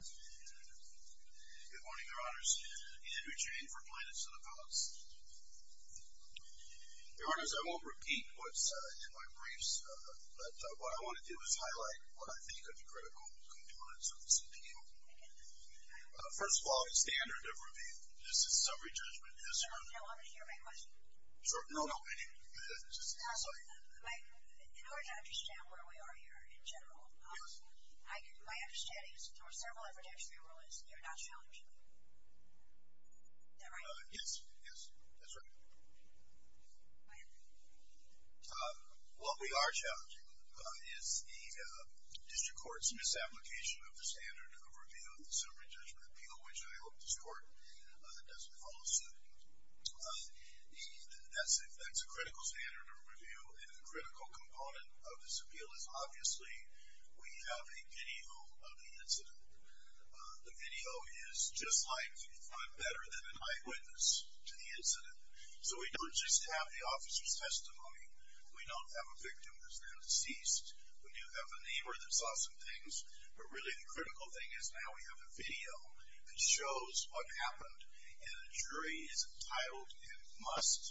Good morning, your honors. Ian Huchain for Planets of the Palace. Your honors, I won't repeat what's in my briefs, but what I want to do is highlight what I think are the critical components of this appeal. First of all, the standard of review. This is summary judgment. No, I'm going to hear my question. No, no, I didn't mean that. In order to understand where we are here in general, my understanding is that you're not challenging. Is that right? Yes, yes, that's right. What we are challenging is the district court's misapplication of the standard of review in the summary judgment appeal, which I hope this court doesn't follow suit. That's a critical standard of review, and a critical component of this appeal is obviously we have a video of the incident. The video is just like, if not better than, an eyewitness to the incident. So we don't just have the officer's testimony. We don't have a victim that's been deceased. We do have a neighbor that saw some things. But really the critical thing is now we have a video that shows what happened, and a jury is entitled and must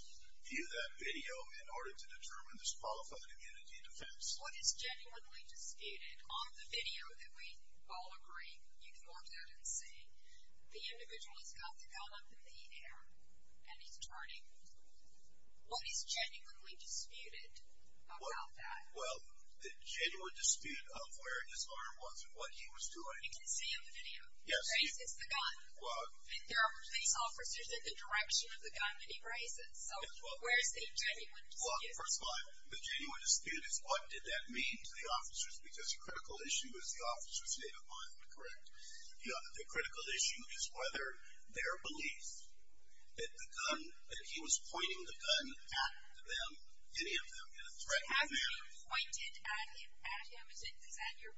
view that video in order to determine this fall for the community defense. What is genuinely disputed on the video that we all agree you can watch that and see, the individual has got the gun up in the air, and he's turning. What is genuinely disputed about that? Well, the genuine dispute of where his arm was and what he was doing. You can see in the video. Yes. He raises the gun. And there are police officers in the direction of the gun that he raises. So where is the genuine dispute? Well, first of all, the genuine dispute is what did that mean to the officers, because the critical issue is the officer's state of mind, correct? Yeah, the critical issue is whether their belief that the gun, that he was pointing the gun at them, any of them, in a threatening manner. So has he pointed at him? Is that your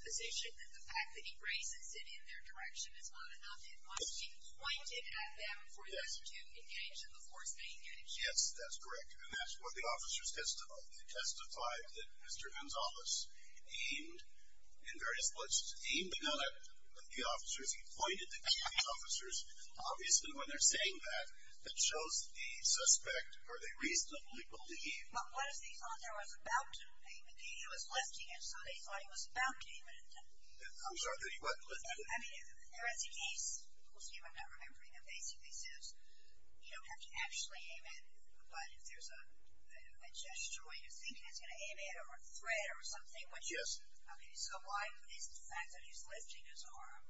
position, that the fact that he raises it in their direction is not enough? It must be pointed at them for them to engage in the force being engaged. Yes, that's correct. And that's what the officers testified. That Mr. Gonzales aimed in various places. Aimed at the officers. He pointed at the officers. Obviously, when they're saying that, that shows the suspect, or they reasonably believe. Well, what if they thought there was about to be a gun, he was lifting it, so they thought he was about to aim it at them. I'm sorry, that he wasn't lifting it. I mean, there is a case, we'll see if I'm not remembering it, basically says you don't have to actually aim it, but if there's a gesture where you think he's going to aim it or a threat or something. Yes. I mean, so why is the fact that he's lifting his arm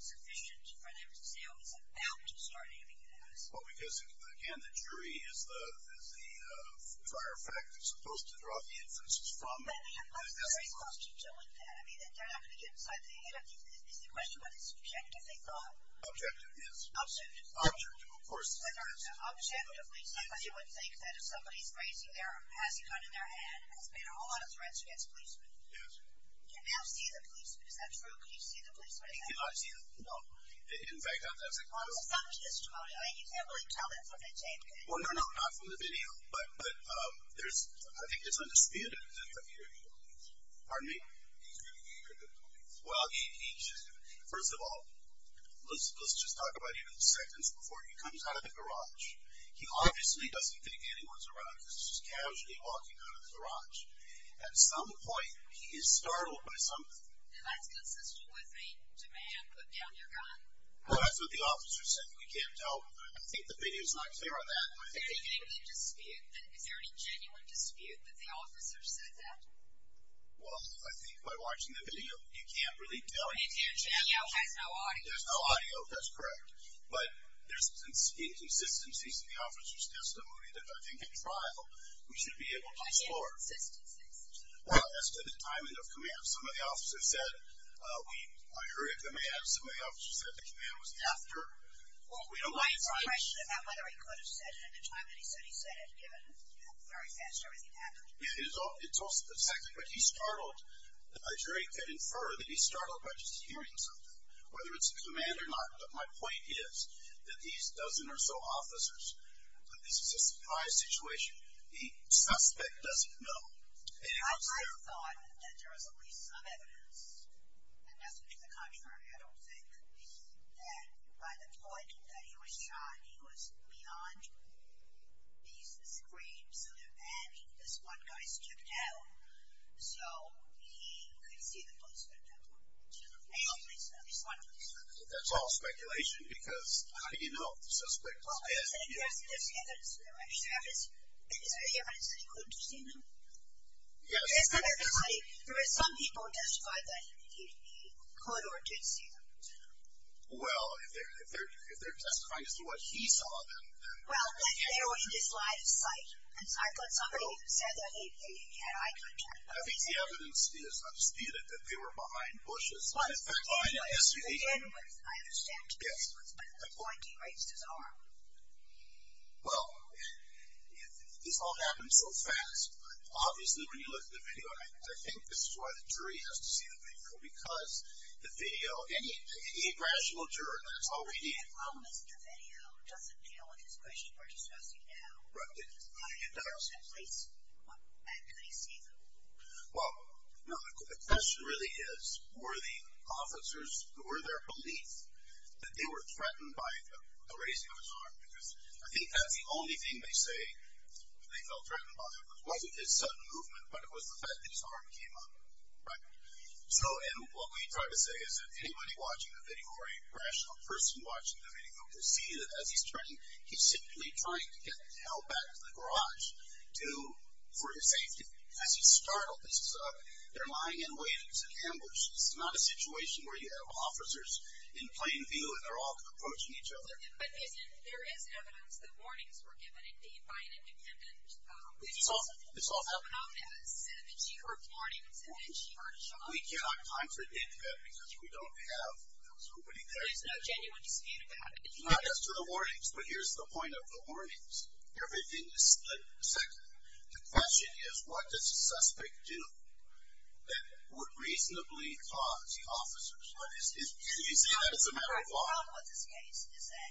sufficient for them to say, oh, he's about to start aiming it at us? Well, because, again, the jury is the prior fact that's supposed to draw the inferences from. But they're supposed to be doing that. I mean, they're not going to get inside the head of these. It's the question whether it's objective they thought. Objective, yes. Objective. Objective, of course. Objectively, because you would think that if somebody's raising their, has a gun in their hand, there's been a whole lot of threats against policemen. Yes. Can they not see the policemen? Is that true? Can you see the policemen? Can you not see them? No. In fact, I was going to say. Well, there's something to this testimony. I mean, you can't really tell that from the tape, can you? Well, no, no, not from the video. But there's, I think it's undisputed that he's a very good police. Pardon me? He's a really good police. Well, he just, first of all, let's just talk about him in a second before he comes out of the garage. He obviously doesn't think anyone's around because he's just casually walking out of the garage. At some point, he is startled by something. And that's consistent with a demand, put down your gun? Well, that's what the officer said. You can't tell. I think the video's not clear on that one. Is there any dispute, is there any genuine dispute that the officer said that? Well, I think by watching the video, you can't really tell. The video has no audio. There's no audio, that's correct. But there's inconsistencies in the officer's testimony that I think in trial we should be able to explore. What inconsistencies? Well, as to the timing of command. Some of the officers said we are in a hurry of command. Some of the officers said the command was after. Well, my question is about whether he could have said it at the time that he said he said it, given how very fast everything happened. It's also the fact that he's startled. A jury could infer that he's startled by just hearing something, whether it's a command or not. But my point is that these dozen or so officers, this is a surprise situation. The suspect doesn't know. I thought that there was at least some evidence, and that's what the contrary, I don't think, that by the point that he was shot, he was beyond these screens. And this one guy stepped out, so he could see the policeman. At least one of them. That's all speculation because how do you know if the suspect is dead? Well, I said there's evidence. Is there evidence that he could have seen them? Yes. There is some people who testified that he could or did see them. Well, if they're testifying as to what he saw, then yes. Well, they were in his line of sight. I thought somebody said that he had eye contact. I think the evidence is undisputed that they were behind bushes. But anyway, I understand. Yes. But at what point did he raise his arm? Well, this all happened so fast. Obviously, when you look at the video, and I think this is why the jury has to see the video, because the video, any rational juror, that's all we need. The problem is that the video doesn't deal with his question we're discussing now. Right. How did he place him? How could he see them? Well, no, the question really is were the officers, or their police, that they were threatened by the raising of his arm? Because I think that's the only thing they say they felt threatened by. It wasn't his sudden movement, but it was the fact that his arm came up. Right. So, and what we try to say is that anybody watching the video, or a rational person watching the video, will see that as he's turning, he's simply trying to get help back to the garage for his safety. As he's startled, they're lying in wait. It's an ambush. It's not a situation where you have officers in plain view, and they're all approaching each other. But there is evidence that warnings were given, indeed, by an independent witness. It's all evidence. And that she heard warnings, and that she heard shouting. We cannot contradict that because we don't have those. There is no genuine dispute about it. It's not just to the warnings, but here's the point of the warnings. Everything is split. The question is what does a suspect do that would reasonably cause the officers, and you say that as a metaphor. What I found with this case is that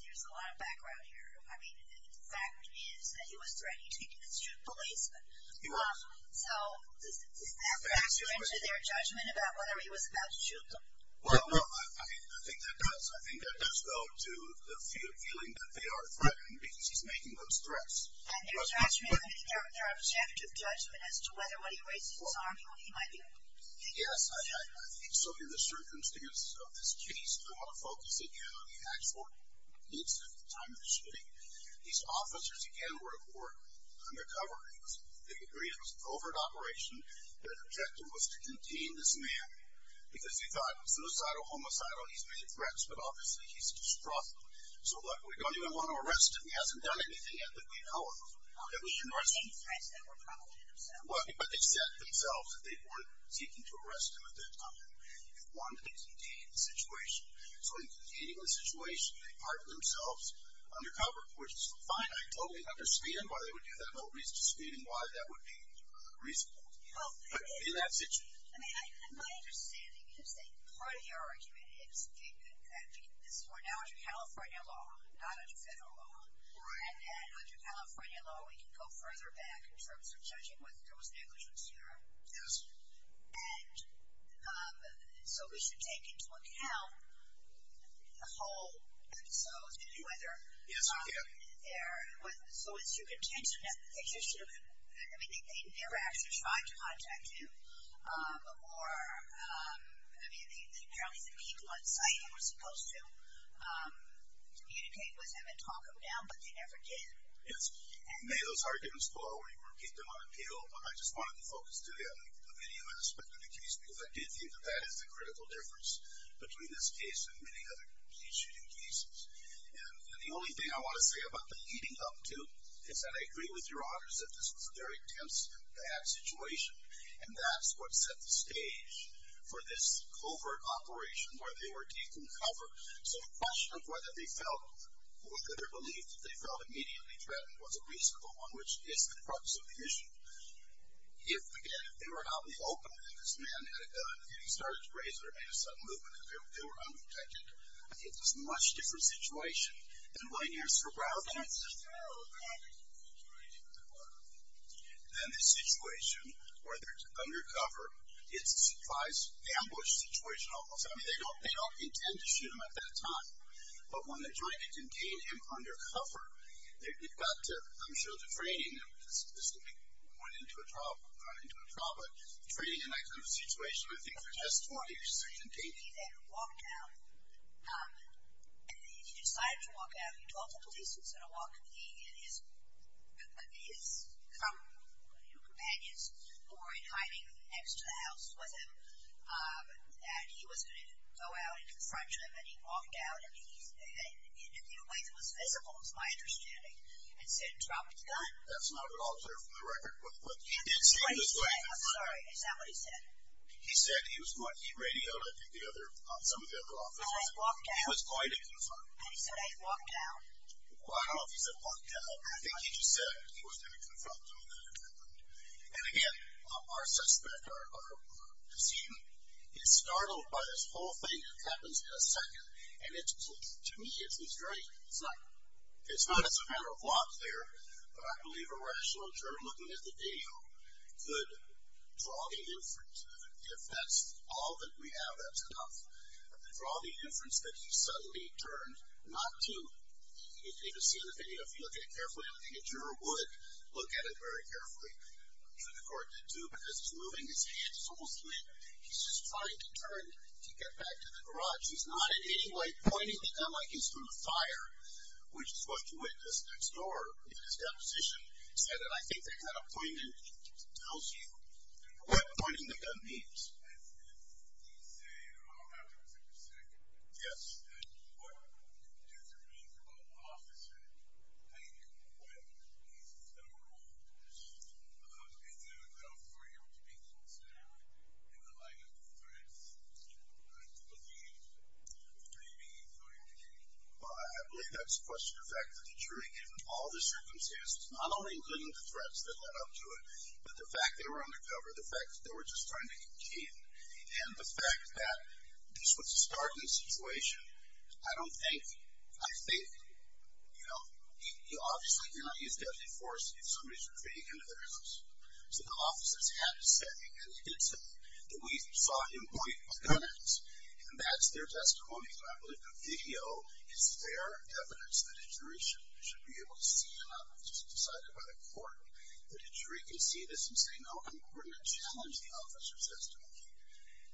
there's a lot of background here. I mean, the fact is that he was threatening to shoot policemen. He was. So, does that factor into their judgment about whether he was about to shoot them? Well, no, I mean, I think that does. I think that does go to the feeling that they are threatening because he's making those threats. And their judgment, their objective judgment as to whether or what he raised his arm, he might be thinking that. Yes, I think so in the circumstances of this case, I want to focus again on the actual incident at the time of the shooting. These officers, again, were at work undercover. They agreed it was a covert operation. Their objective was to contain this man because they thought it was suicidal, homicidal. He's made threats, but obviously he's distrustful. So, look, we don't even want to arrest him. He hasn't done anything yet that we know of that we should arrest him. Well, he's making threats that were probably himself. Well, but they said themselves that they weren't seeking to arrest him at that time. They wanted to contain the situation. So, in containing the situation, they parked themselves undercover, which is fine. I totally understand why they would do that. No reason to dispute him why that would be reasonable in that situation. I mean, my understanding is that part of your argument is, I mean, we're now under California law, not under federal law. And under California law, we can go further back in terms of judging whether there was negligence here. Yes. And so we should take into account the whole episode and whether there was so it's your contention that they never actually tried to contact him or, I mean, apparently the people on site were supposed to communicate with him and talk him down, but they never did. And may those arguments go out where you repeat them on appeal, but I just wanted to focus today on the minimum aspect of the case because I do think that that is the critical difference between this case and many other case shooting cases. And the only thing I want to say about the leading up to is that I agree with your honors that this was a very tense and bad situation, and that's what set the stage for this covert operation where they were taking cover. So the question of whether they felt or could or believed that they felt immediately threatened was a reasonable one, which is the crux of the issue. If, again, they were held open and this man had a gun and he started to raise it or made a sudden movement and they were undetected, it was a much different situation than when you're surrounding and then the situation where they're undercover, it's a surprise ambush situation almost. I mean, they don't intend to shoot him at that time, but when they're trying to contain him undercover, you've got to, I'm sure, to train him, because this could make him run into a trouble, but training in that kind of situation, I think, for just four years is contained. He then walked out, and he decided to walk out. He told the police he was going to walk, and he and his companions who were hiding next to the house with him, and he was going to go out and confront him, and he walked out, and in a few ways it was physical, is my understanding, and said, drop his gun. That's not at all clear from the record. I'm sorry. Is that what he said? He said he was going to get radioed, I think, by some of the other officers. He was going to confront him. And he said, I walked out. Well, I don't know if he said walked out. I think he just said he was going to confront him, and then it happened. And, again, our suspect, our deceived, is startled by this whole thing that happens in a second, and to me it's not as a matter of logic there, but I believe a rational juror looking at the video could draw the inference. If that's all that we have, that's enough. Draw the inference that he suddenly turned not to. If you look at it carefully, I don't think a juror would look at it very carefully. I'm sure the court did, too, because he's moving his hands. He's almost lit. He's just trying to turn to get back to the garage. He's not, in any way, pointing the gun like he's throwing a fire, which is what you witnessed next door in his deposition. He said, and I think there's not a point in anything he tells you, what pointing the gun means. Yes. Well, I believe that's a question of the fact that the jury, given all the circumstances, not only including the threats that led up to it, but the fact they were undercover, the fact that they were just trying to contain, and the fact that this was a startling situation. I don't think, I think, you know, obviously you're not using deadly force if somebody's retreating into their house. So the officers had to say, and they did say, that we saw him point a gun at us, and that's their testimony. So I believe the video is their evidence that a jury should be able to see, and not just decided by the court. But a jury can see this and say, no, I'm going to challenge the officer's testimony.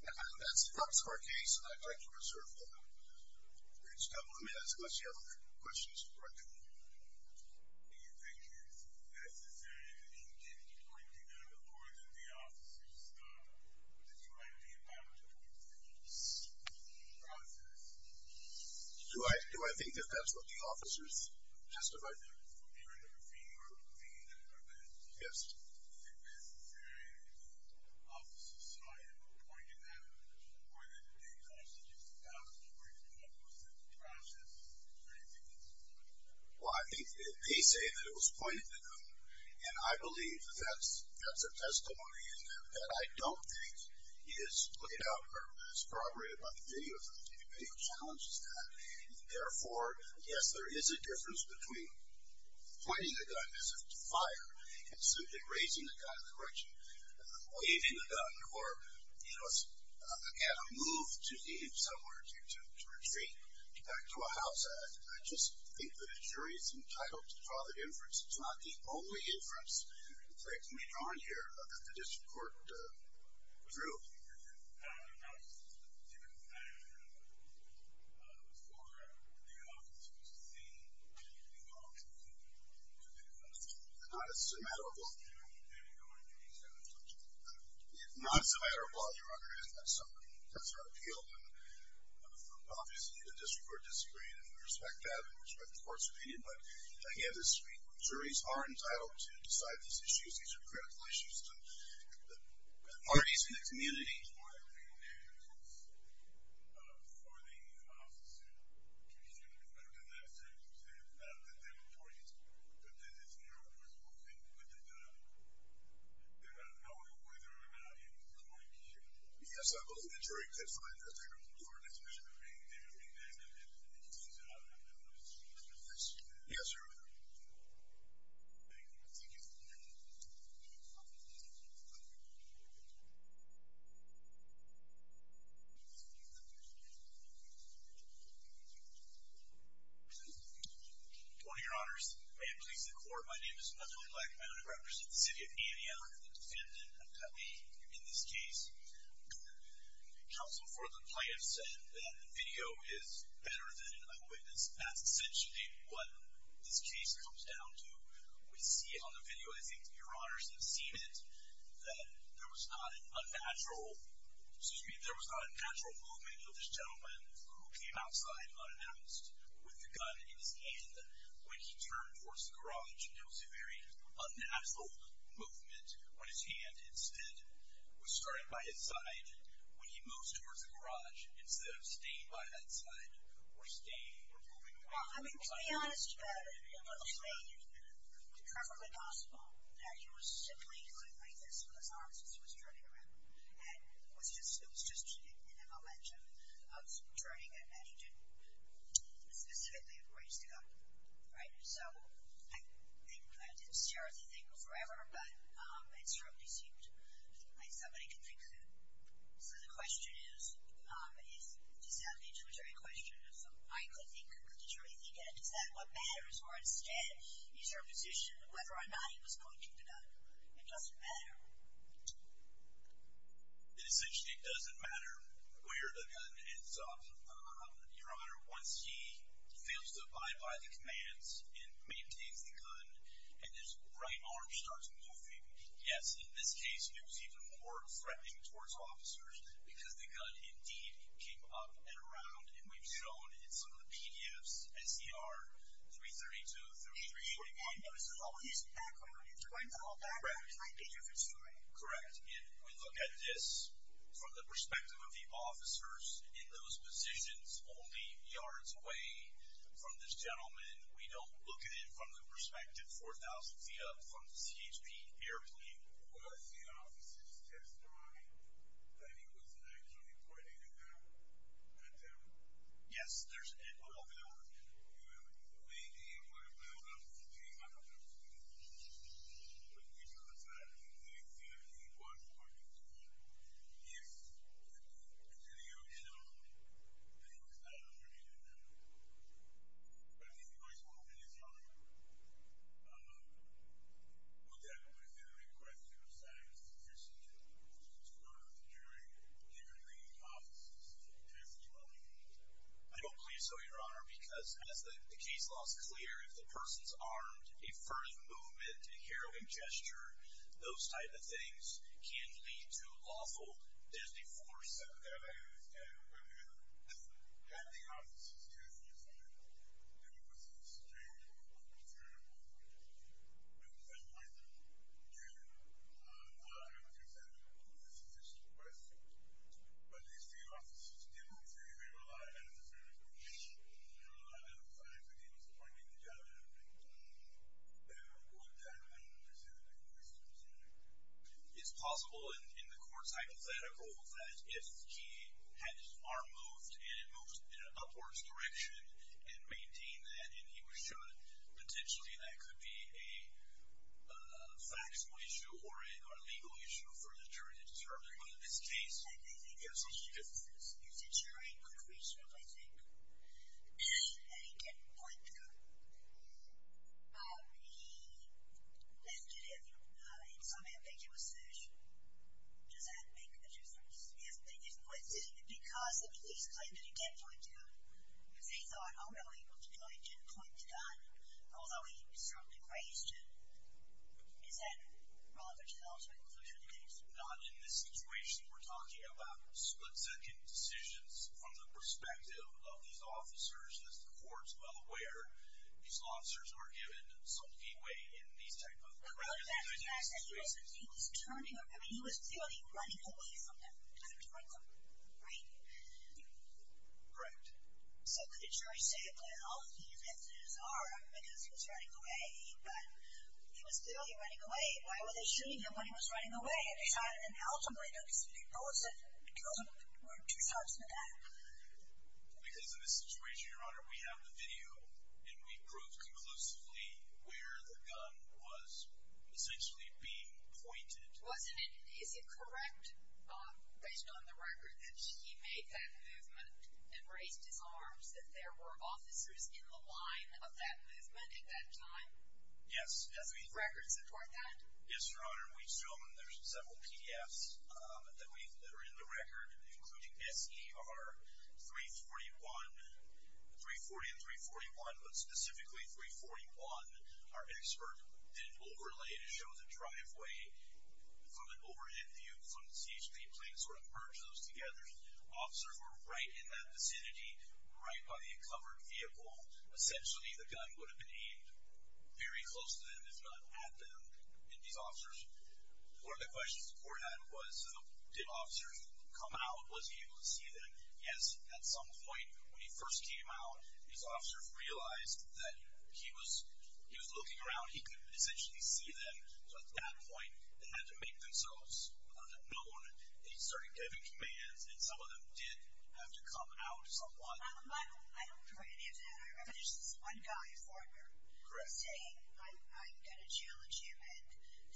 And I think that's the crux of our case, and I'd like to reserve that. I mean, unless you have other questions. Do I think that that's what the officers testified to? Yes. Well, I think they say that it was pointed at them, and I believe that that's a testimony that I don't think is laid out or corroborated by the video. I think the video challenges that. Therefore, yes, there is a difference between pointing a gun as if it's fired, and simply raising the gun in the direction, waving the gun, or, you know, a move to leave somewhere, to retreat back to a house. I just think that a jury is entitled to draw the difference. It's not the only difference that can be drawn here that the district court drew. I'm not sure. It's not a matter of law. It's not a matter of law, Your Honor. That's our appeal. Obviously, the district court disagreed, and we respect that, and we respect the court's opinion. But, again, the juries are entitled to decide these issues. These are critical issues. The parties in the community... Yes, sir. Yes, sir. Good morning, Your Honors. May it please the court, my name is Nathaly Blackmount. I represent the city of Indiana. I'm the defendant. In this case, counsel for the plaintiff said that the video is better than an eyewitness. That's essentially what this case comes down to. We see it on the video. I think Your Honors have seen it, that there was not an unnatural movement of this gentleman who came outside unannounced with a gun in his hand when he turned towards the garage. There was a very unnatural movement when his hand, instead, was starting by his side when he moved towards the garage. we're moving the gun by his side. Well, I mean, to be honest, it looks to me perfectly possible that he was simply doing like this with his arms as he was turning around. And it was just in a momentum of turning and he didn't specifically raise the gun. Right? So I didn't stare at the thing forever, but it certainly seemed like somebody could fix it. So the question is, does that lead to the jury question I could think of the jury thinking, is that what matters? Or instead, is your position whether or not he was pointing the gun? It doesn't matter. Essentially, it doesn't matter where the gun ends up. Your Honor, once he fails to abide by the commands and maintains the gun, and his right arm starts moving, yes, in this case, it was even more threatening towards officers because the gun indeed came up and around and we've shown in some of the PDFs, SCR-332 through 381. And you want to notice that all his background, his right arm background, might be different story. Correct. And we look at this from the perspective of the officers in those positions only yards away from this gentleman. We don't look at it from the perspective 4,000 feet up from the CHP airplane. Well, the officers testified that he was actually pointing the gun at them. Yes, there's... Hold on, hold on. Your Honor, maybe it would have been enough for him not to have pointed the gun, but he does that, and he was pointing the gun. Yes. And to your challenge, that he was not pointing the gun at them. But if he was pointing his gun at them, would that have been a request to the science division to order the jury and the officers to testify? I don't believe so, Your Honor, because as the case law is clear, if the person's armed, a furtive movement, a harrowing gesture, those type of things can lead to lawful disenforcement. Okay. But had the officers testified that he was in a state of concern and pointed the gun at them, is that a sufficient request? But if the officers didn't, if they were alive at the time of the shooting, if they were alive at the time that he was pointing the gun at them, would that have been considered a request to the jury? It's possible in the court's hypothetical that if he had his arm moved and it moved in an upwards direction and maintained that and he was shot, potentially that could be a factual issue or a legal issue for the jury to determine. But in this case, I think the jury could reasonably think that he didn't point the gun. He left it at him. In some ambiguous search, does that make a difference? If they didn't point it at him because the police claimed that he didn't point the gun because they thought, oh, no, he looked like he didn't point the gun, although he certainly raised it, is that relevant at all to the conclusion of the case? Not in this situation. We're talking about split-second decisions from the perspective of these officers. As the court's well aware, these officers are given some leeway in these types of cases. Well, that's the fact that he was turning, I mean, he was clearly running away from them because he was pointing the gun, right? Correct. So could the jury say, well, all of these instances are because he was running away, but he was clearly running away. Why were they shooting him when he was running away? They shot him and held him, right? Those were two shots in the back. Because in this situation, Your Honor, we have the video, and we proved conclusively where the gun was essentially being pointed. Wasn't it... Is it correct, based on the record, that he made that movement and raised his arms, that there were officers in the line of that movement at that time? Yes. Are there any records that point that? Yes, Your Honor. We've shown there's several PDFs that are in the record, including S.E.R. 341, 340 and 341, but specifically 341, our expert, did an overlay to show the driveway from an overhead view from the CHP plane, sort of merge those together. Officers were right in that vicinity, right by the uncovered vehicle. Essentially, the gun would have been aimed very close to them, if not at them. And these officers... One of the questions the court had was, did officers come out? Was he able to see them? Yes, at some point, when he first came out, these officers realized that he was looking around. He could essentially see them. So at that point, they had to make themselves known. They started giving commands, and some of them did have to come out somewhat. I don't remember any of that. I remember there's this one guy, Fortner... Correct. ...saying, I'm going to challenge him, and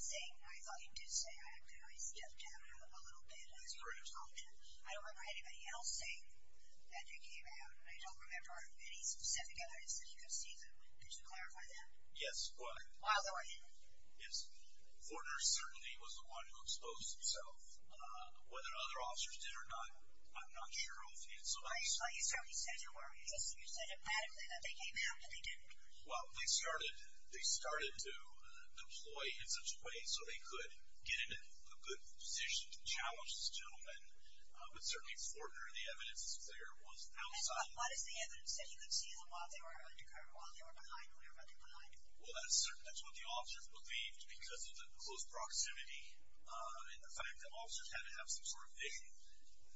saying, I thought he did say, I stepped out a little bit. That's correct. I don't remember anybody else saying that he came out. I don't remember any specific other instance that he could see them. Could you clarify that? Yes. Miles, how about you? Yes. Fortner certainly was the one who exposed himself. Whether other officers did or not, I'm not sure of. Well, you certainly said you were. You said emphatically that they came out, but they didn't. Well, they started to deploy in such a way so they could get into a good position to challenge this gentleman. But certainly, Fortner, the evidence is clear, was outside. What is the evidence that he could see them while they were behind, whenever they were behind? Well, that's what the officers believed because of the close proximity and the fact that officers had to have some sort of vision.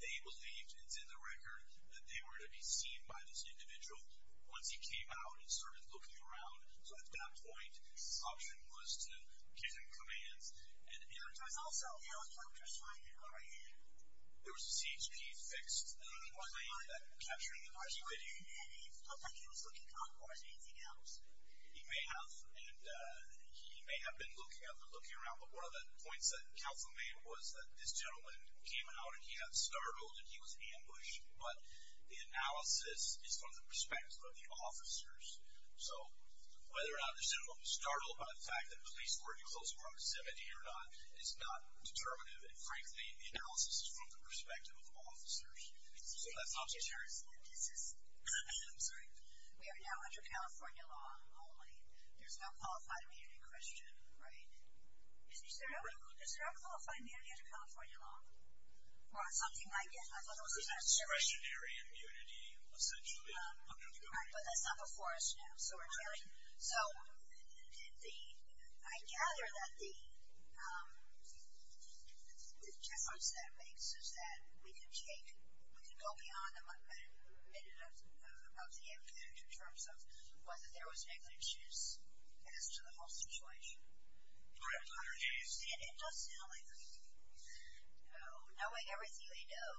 They believed, it's in the record, that they were to be seen by this individual once he came out and started looking around. So at that point, the option was to give him commands. And there was also... Yeah, I was wondering if I could go right in. There was a CHP-fixed claim that capturing him was a good thing. It looked like he was looking out for something else. He may have. And he may have been looking around. But one of the points that counsel made was that this gentleman came out, and he got startled, and he was ambushed. But the analysis is from the perspective of the officers. So whether or not this gentleman was startled by the fact that police were in close proximity or not is not determinative. And frankly, the analysis is from the perspective of officers. So that's not so serious. I'm sorry. We are now under California law only. There's no qualified immediate question, right? Is there no qualified immediate California law? Or something like it? I thought it was discretionary immunity, essentially. But that's not before us now. So I gather that the difference that makes is that we can take, we can go beyond a minute of the impact in terms of whether there was negligence as to the whole situation. Correct, Your Honor. I understand. It does sound like negligence. No. Knowing everything we know,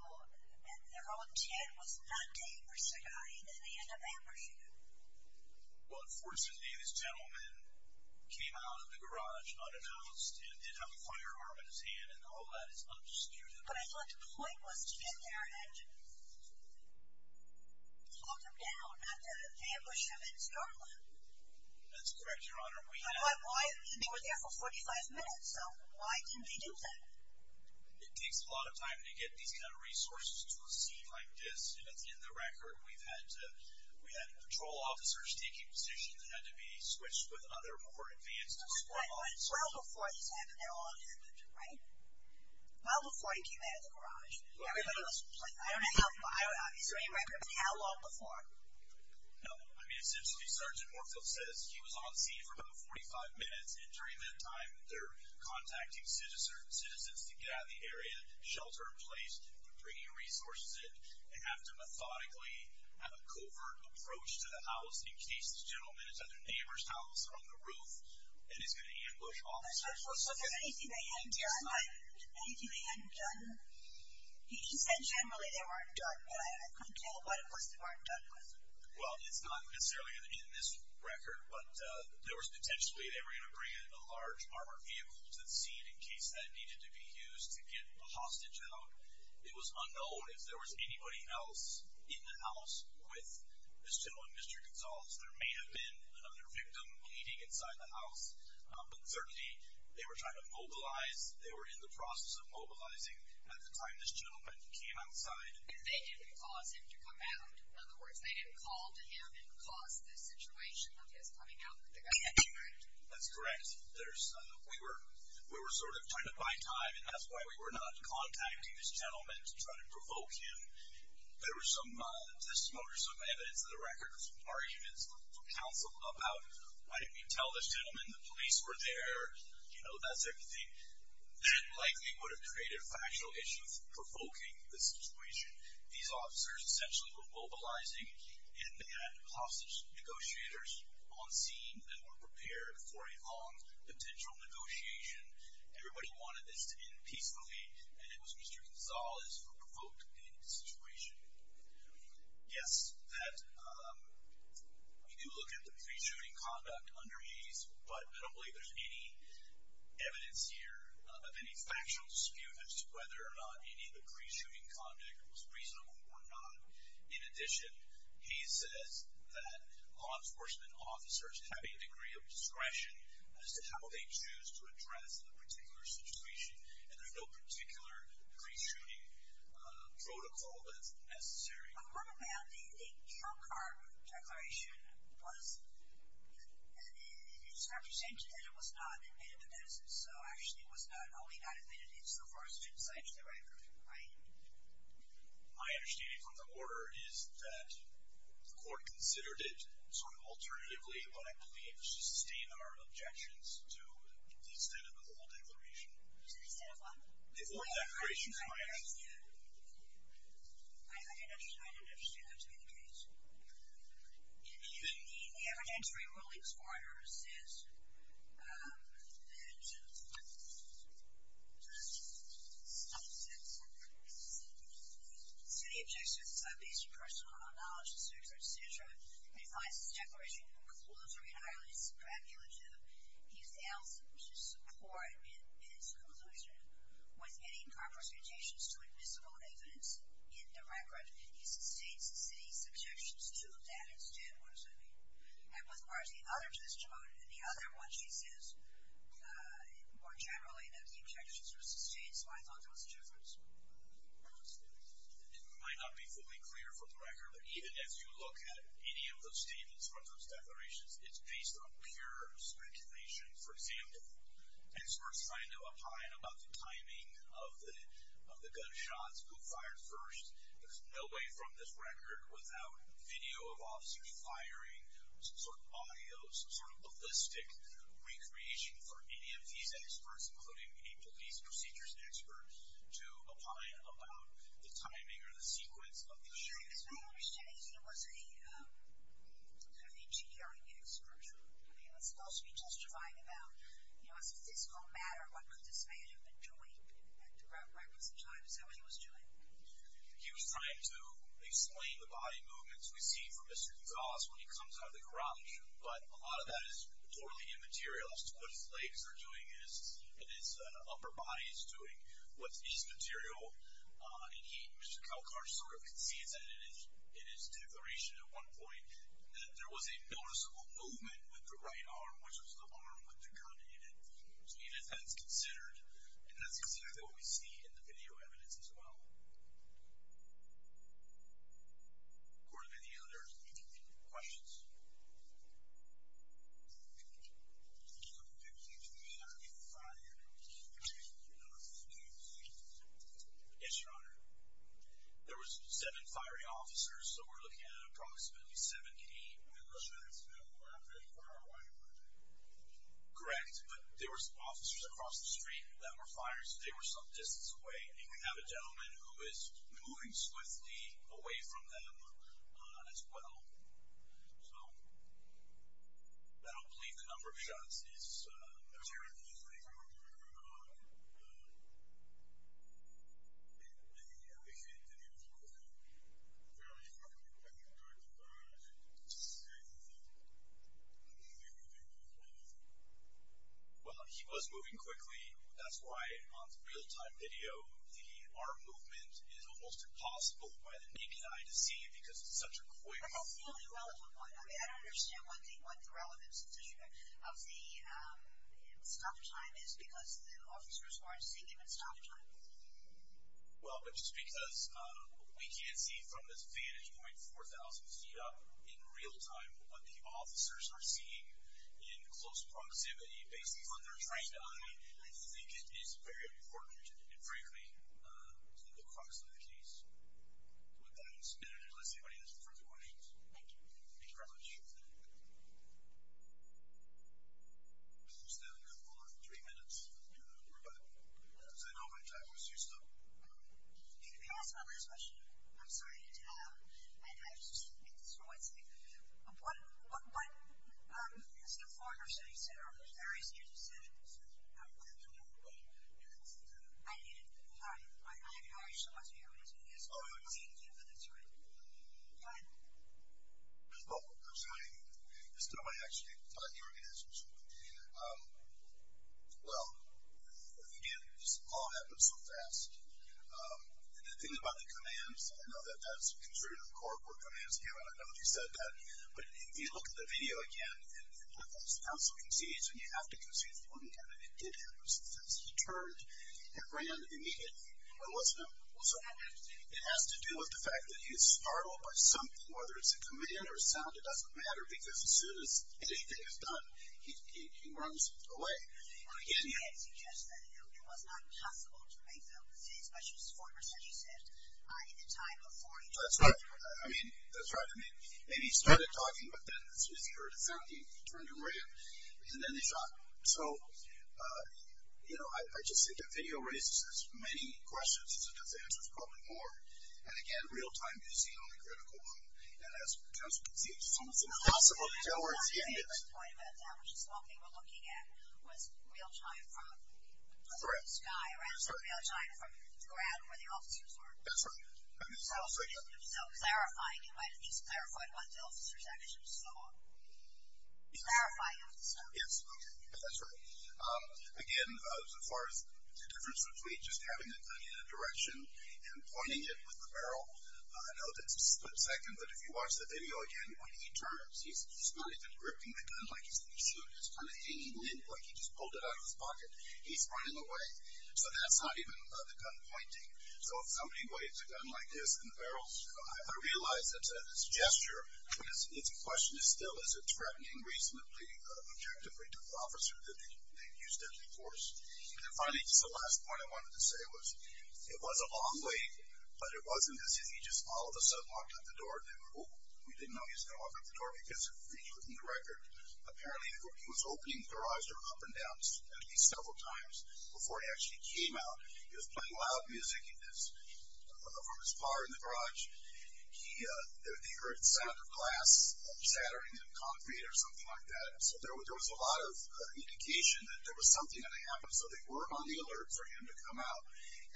and their own 10 was not dangerous to die, then they end up ambushing him. Well, unfortunately, this gentleman came out of the garage unannounced and did have a firearm in his hand. And all that is undisputed. But I thought the point was to get there and talk him down, not to ambush him in Starland. That's correct, Your Honor. But they were there for 45 minutes. So why didn't they do that? It takes a lot of time to get these kind of resources to a scene like this. And it's in the record. We've had patrol officers taking positions and had to be switched with other more advanced squad officers. But it's well before this happened, right? Well before he came out of the garage. Is there any record of how long before? No. I mean, essentially, Sergeant Morefield says he was on scene for about 45 minutes. And during that time, they're contacting citizens to get out of the area, shelter in place, bringing resources in, and have to methodically have a covert approach to the house in case this gentleman is at their neighbor's house on the roof and is going to ambush officers. So is there anything they hadn't done? Anything they hadn't done? He said generally they weren't done. But I can't tell what it was they weren't done with. Well, it's not necessarily in this record, but there was potentially they were going to bring in a large armored vehicle to the scene in case that needed to be used to get a hostage out. It was unknown if there was anybody else in the house with this gentleman, Mr. Gonzalez. There may have been another victim bleeding inside the house, but certainly they were trying to mobilize. They were in the process of mobilizing at the time this gentleman came outside. And they didn't cause him to come out. In other words, they didn't call to him and cause the situation of his coming out with the gun. That's correct. We were sort of trying to buy time, and that's why we were not contacting this gentleman to try to provoke him. There was some testimony, some evidence in the record, some arguments from counsel about why didn't we tell this gentleman the police were there, you know, that sort of thing. That likely would have created factual issues provoking the situation. These officers essentially were mobilizing, and they had hostage negotiators on scene that were prepared for a long potential negotiation. Everybody wanted this to end peacefully, and it was Mr. Gonzalez who provoked the situation. Yes, we do look at the pre-shooting conduct under Hays, but I don't believe there's any evidence here of any factual dispute as to whether or not any of the pre-shooting conduct was reasonable or not. In addition, Hays says that law enforcement officers have a degree of discretion as to how they choose to address a particular situation, and there's no particular pre-shooting protocol that's necessary. I read about the kill card declaration. It's represented that it was not admitted to the medicine, so actually it was not only not admitted, it's the first two sites that were admitted, right? My understanding from the order is that the court considered it sort of alternatively what I believe to sustain our objections to the extent of the whole declaration. To the extent of what? The whole declaration, Maya. I didn't understand that to be the case. In the evidentiary ruling, this court order says that the city objects to sub-basic personal knowledge, et cetera, et cetera, and finds this declaration conclusory and highly speculative. It fails to support its conclusion with any compresentations to admissible evidence in the record. He sustains the city's objections to that extent. What does that mean? It requires the other testimony, and the other one, she says, more generally, that the objections were sustained, so I thought there was a difference. It might not be fully clear from the record, but even as you look at any of those statements from those declarations, it's based on pure speculation. For example, experts find to opine about the timing of the gunshots, who fired first. There's no way from this record without video of officers firing, some sort of audio, some sort of ballistic recreation for any of these experts, including a police procedures expert, to opine about the timing or the sequence of the shooting. Sure, because my understanding is he was a sort of engineering expert. He was supposed to be testifying about a statistical matter, what could this man have been doing throughout records and time, is that what he was doing? He was trying to explain the body movements we see from Mr. Gonzales when he comes out of the garage, but a lot of that is totally immaterial. What his legs are doing and his upper body is doing is material, and Mr. Kalkar sort of concedes that in his declaration at one point that there was a noticeable movement with the right arm, which was the arm with the gun in it, so even then it's considered, and that's exactly what we see in the video evidence as well. Gordon, any other questions? Yes, Your Honor. There was seven fiery officers, so we're looking at approximately 17. That's fairly far away. Correct, but there were officers across the street that were firing, so they were some distance away, and we have a gentleman who is moving swiftly away from them as well. So I don't believe the number of shots is material. When you said he was moving quickly, I think you said that he was moving fairly quickly, but I'm not sure if he was moving swiftly. Well, he was moving quickly. That's why on the real-time video, the arm movement is almost impossible by the naked eye to see because it's such a quick movement. But that's the only relevant one. I mean, I don't understand what the relevance of the stop time is because the officers weren't seeing him at stop time. Well, it's because we can't see from this vantage point 4,000 feet up in real-time what the officers are seeing in close proximity. Based on their trained eye, I think it is very important, and frankly, the crux of the case. With that, let's see if anybody has further questions. Thank you. Thank you very much. We're still good for three minutes. We're good. Does anybody have time for a few stuff? Can I ask my last question? I'm sorry to interrupt. I just want to make this really quick. What is the Farmer's Day Center on the various years of service? I don't know. I didn't. All right. Go ahead. Well, I'm sorry. I just don't know if I actually taught the organization. Well, again, this all happened so fast. And the thing about the commands, I know that that's considered a corporate command. I don't know if you said that. But if you look at the video again, it doesn't sound so conceded, and you have to concede. It didn't happen. It did happen. It's just that he turned and ran immediately. It has to do with the fact that he's startled by something, whether it's a command or a sound, it doesn't matter, because as soon as anything is done, he runs away. Well, again, you had to suggest that it was not possible to make them, especially as far as you said, in the time before he turned. That's right. I mean, that's right. Maybe he started talking, but then as soon as he heard a sound, he turned and ran, and then he shot. So, you know, I just think that video raises as many questions as it does answers probably more. And, again, real-time is the only critical one. And as it comes to concede, it's almost impossible to tell where it's ended. The point about that, which is the one thing we're looking at, was real-time from the blue sky, rather than real-time from the ground where the officers were. That's right. So, clarifying, you might at least clarify what the officers actually saw. Clarifying officer. Yes. That's right. Again, as far as the difference between just having the gun in a direction and pointing it with the barrel, I know that's a split second, but if you watch the video again, when he turns, he's not even gripping the gun like he's going to shoot. It's kind of hanging in, like he just pulled it out of his pocket. He's running away. So that's not even the gun pointing. So if somebody waves a gun like this in the barrel, I realize that this gesture, it's a question of still, is it threatening reasonably objectively to the officer that they've used it before. And finally, just the last point I wanted to say was it was a long wait, but it wasn't as if he just all of a sudden walked out the door. They were, oh, we didn't know he was going to walk out the door because we couldn't record. Apparently, he was opening the garage door up and down at least several times before he actually came out. He was playing loud music from his car in the garage. They heard the sound of glass shattering and concrete or something like that. So there was a lot of indication that there was something going to happen, so they were on the alert for him to come out.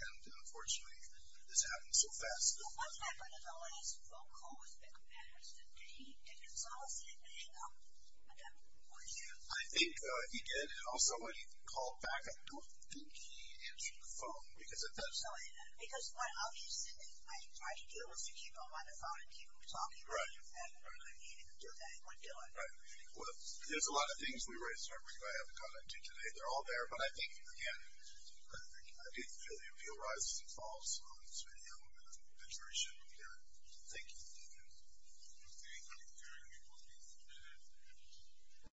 And, unfortunately, this happened so fast. I think he did, and also when he called back, I don't think he answered the phone because it doesn't sound like that. Right. Right. Well, there's a lot of things we raised. I have a comment too today. They're all there, but I think, again, I didn't feel the appeal rises and falls on this video, and I'm very sure we got it. Thank you. Thank you.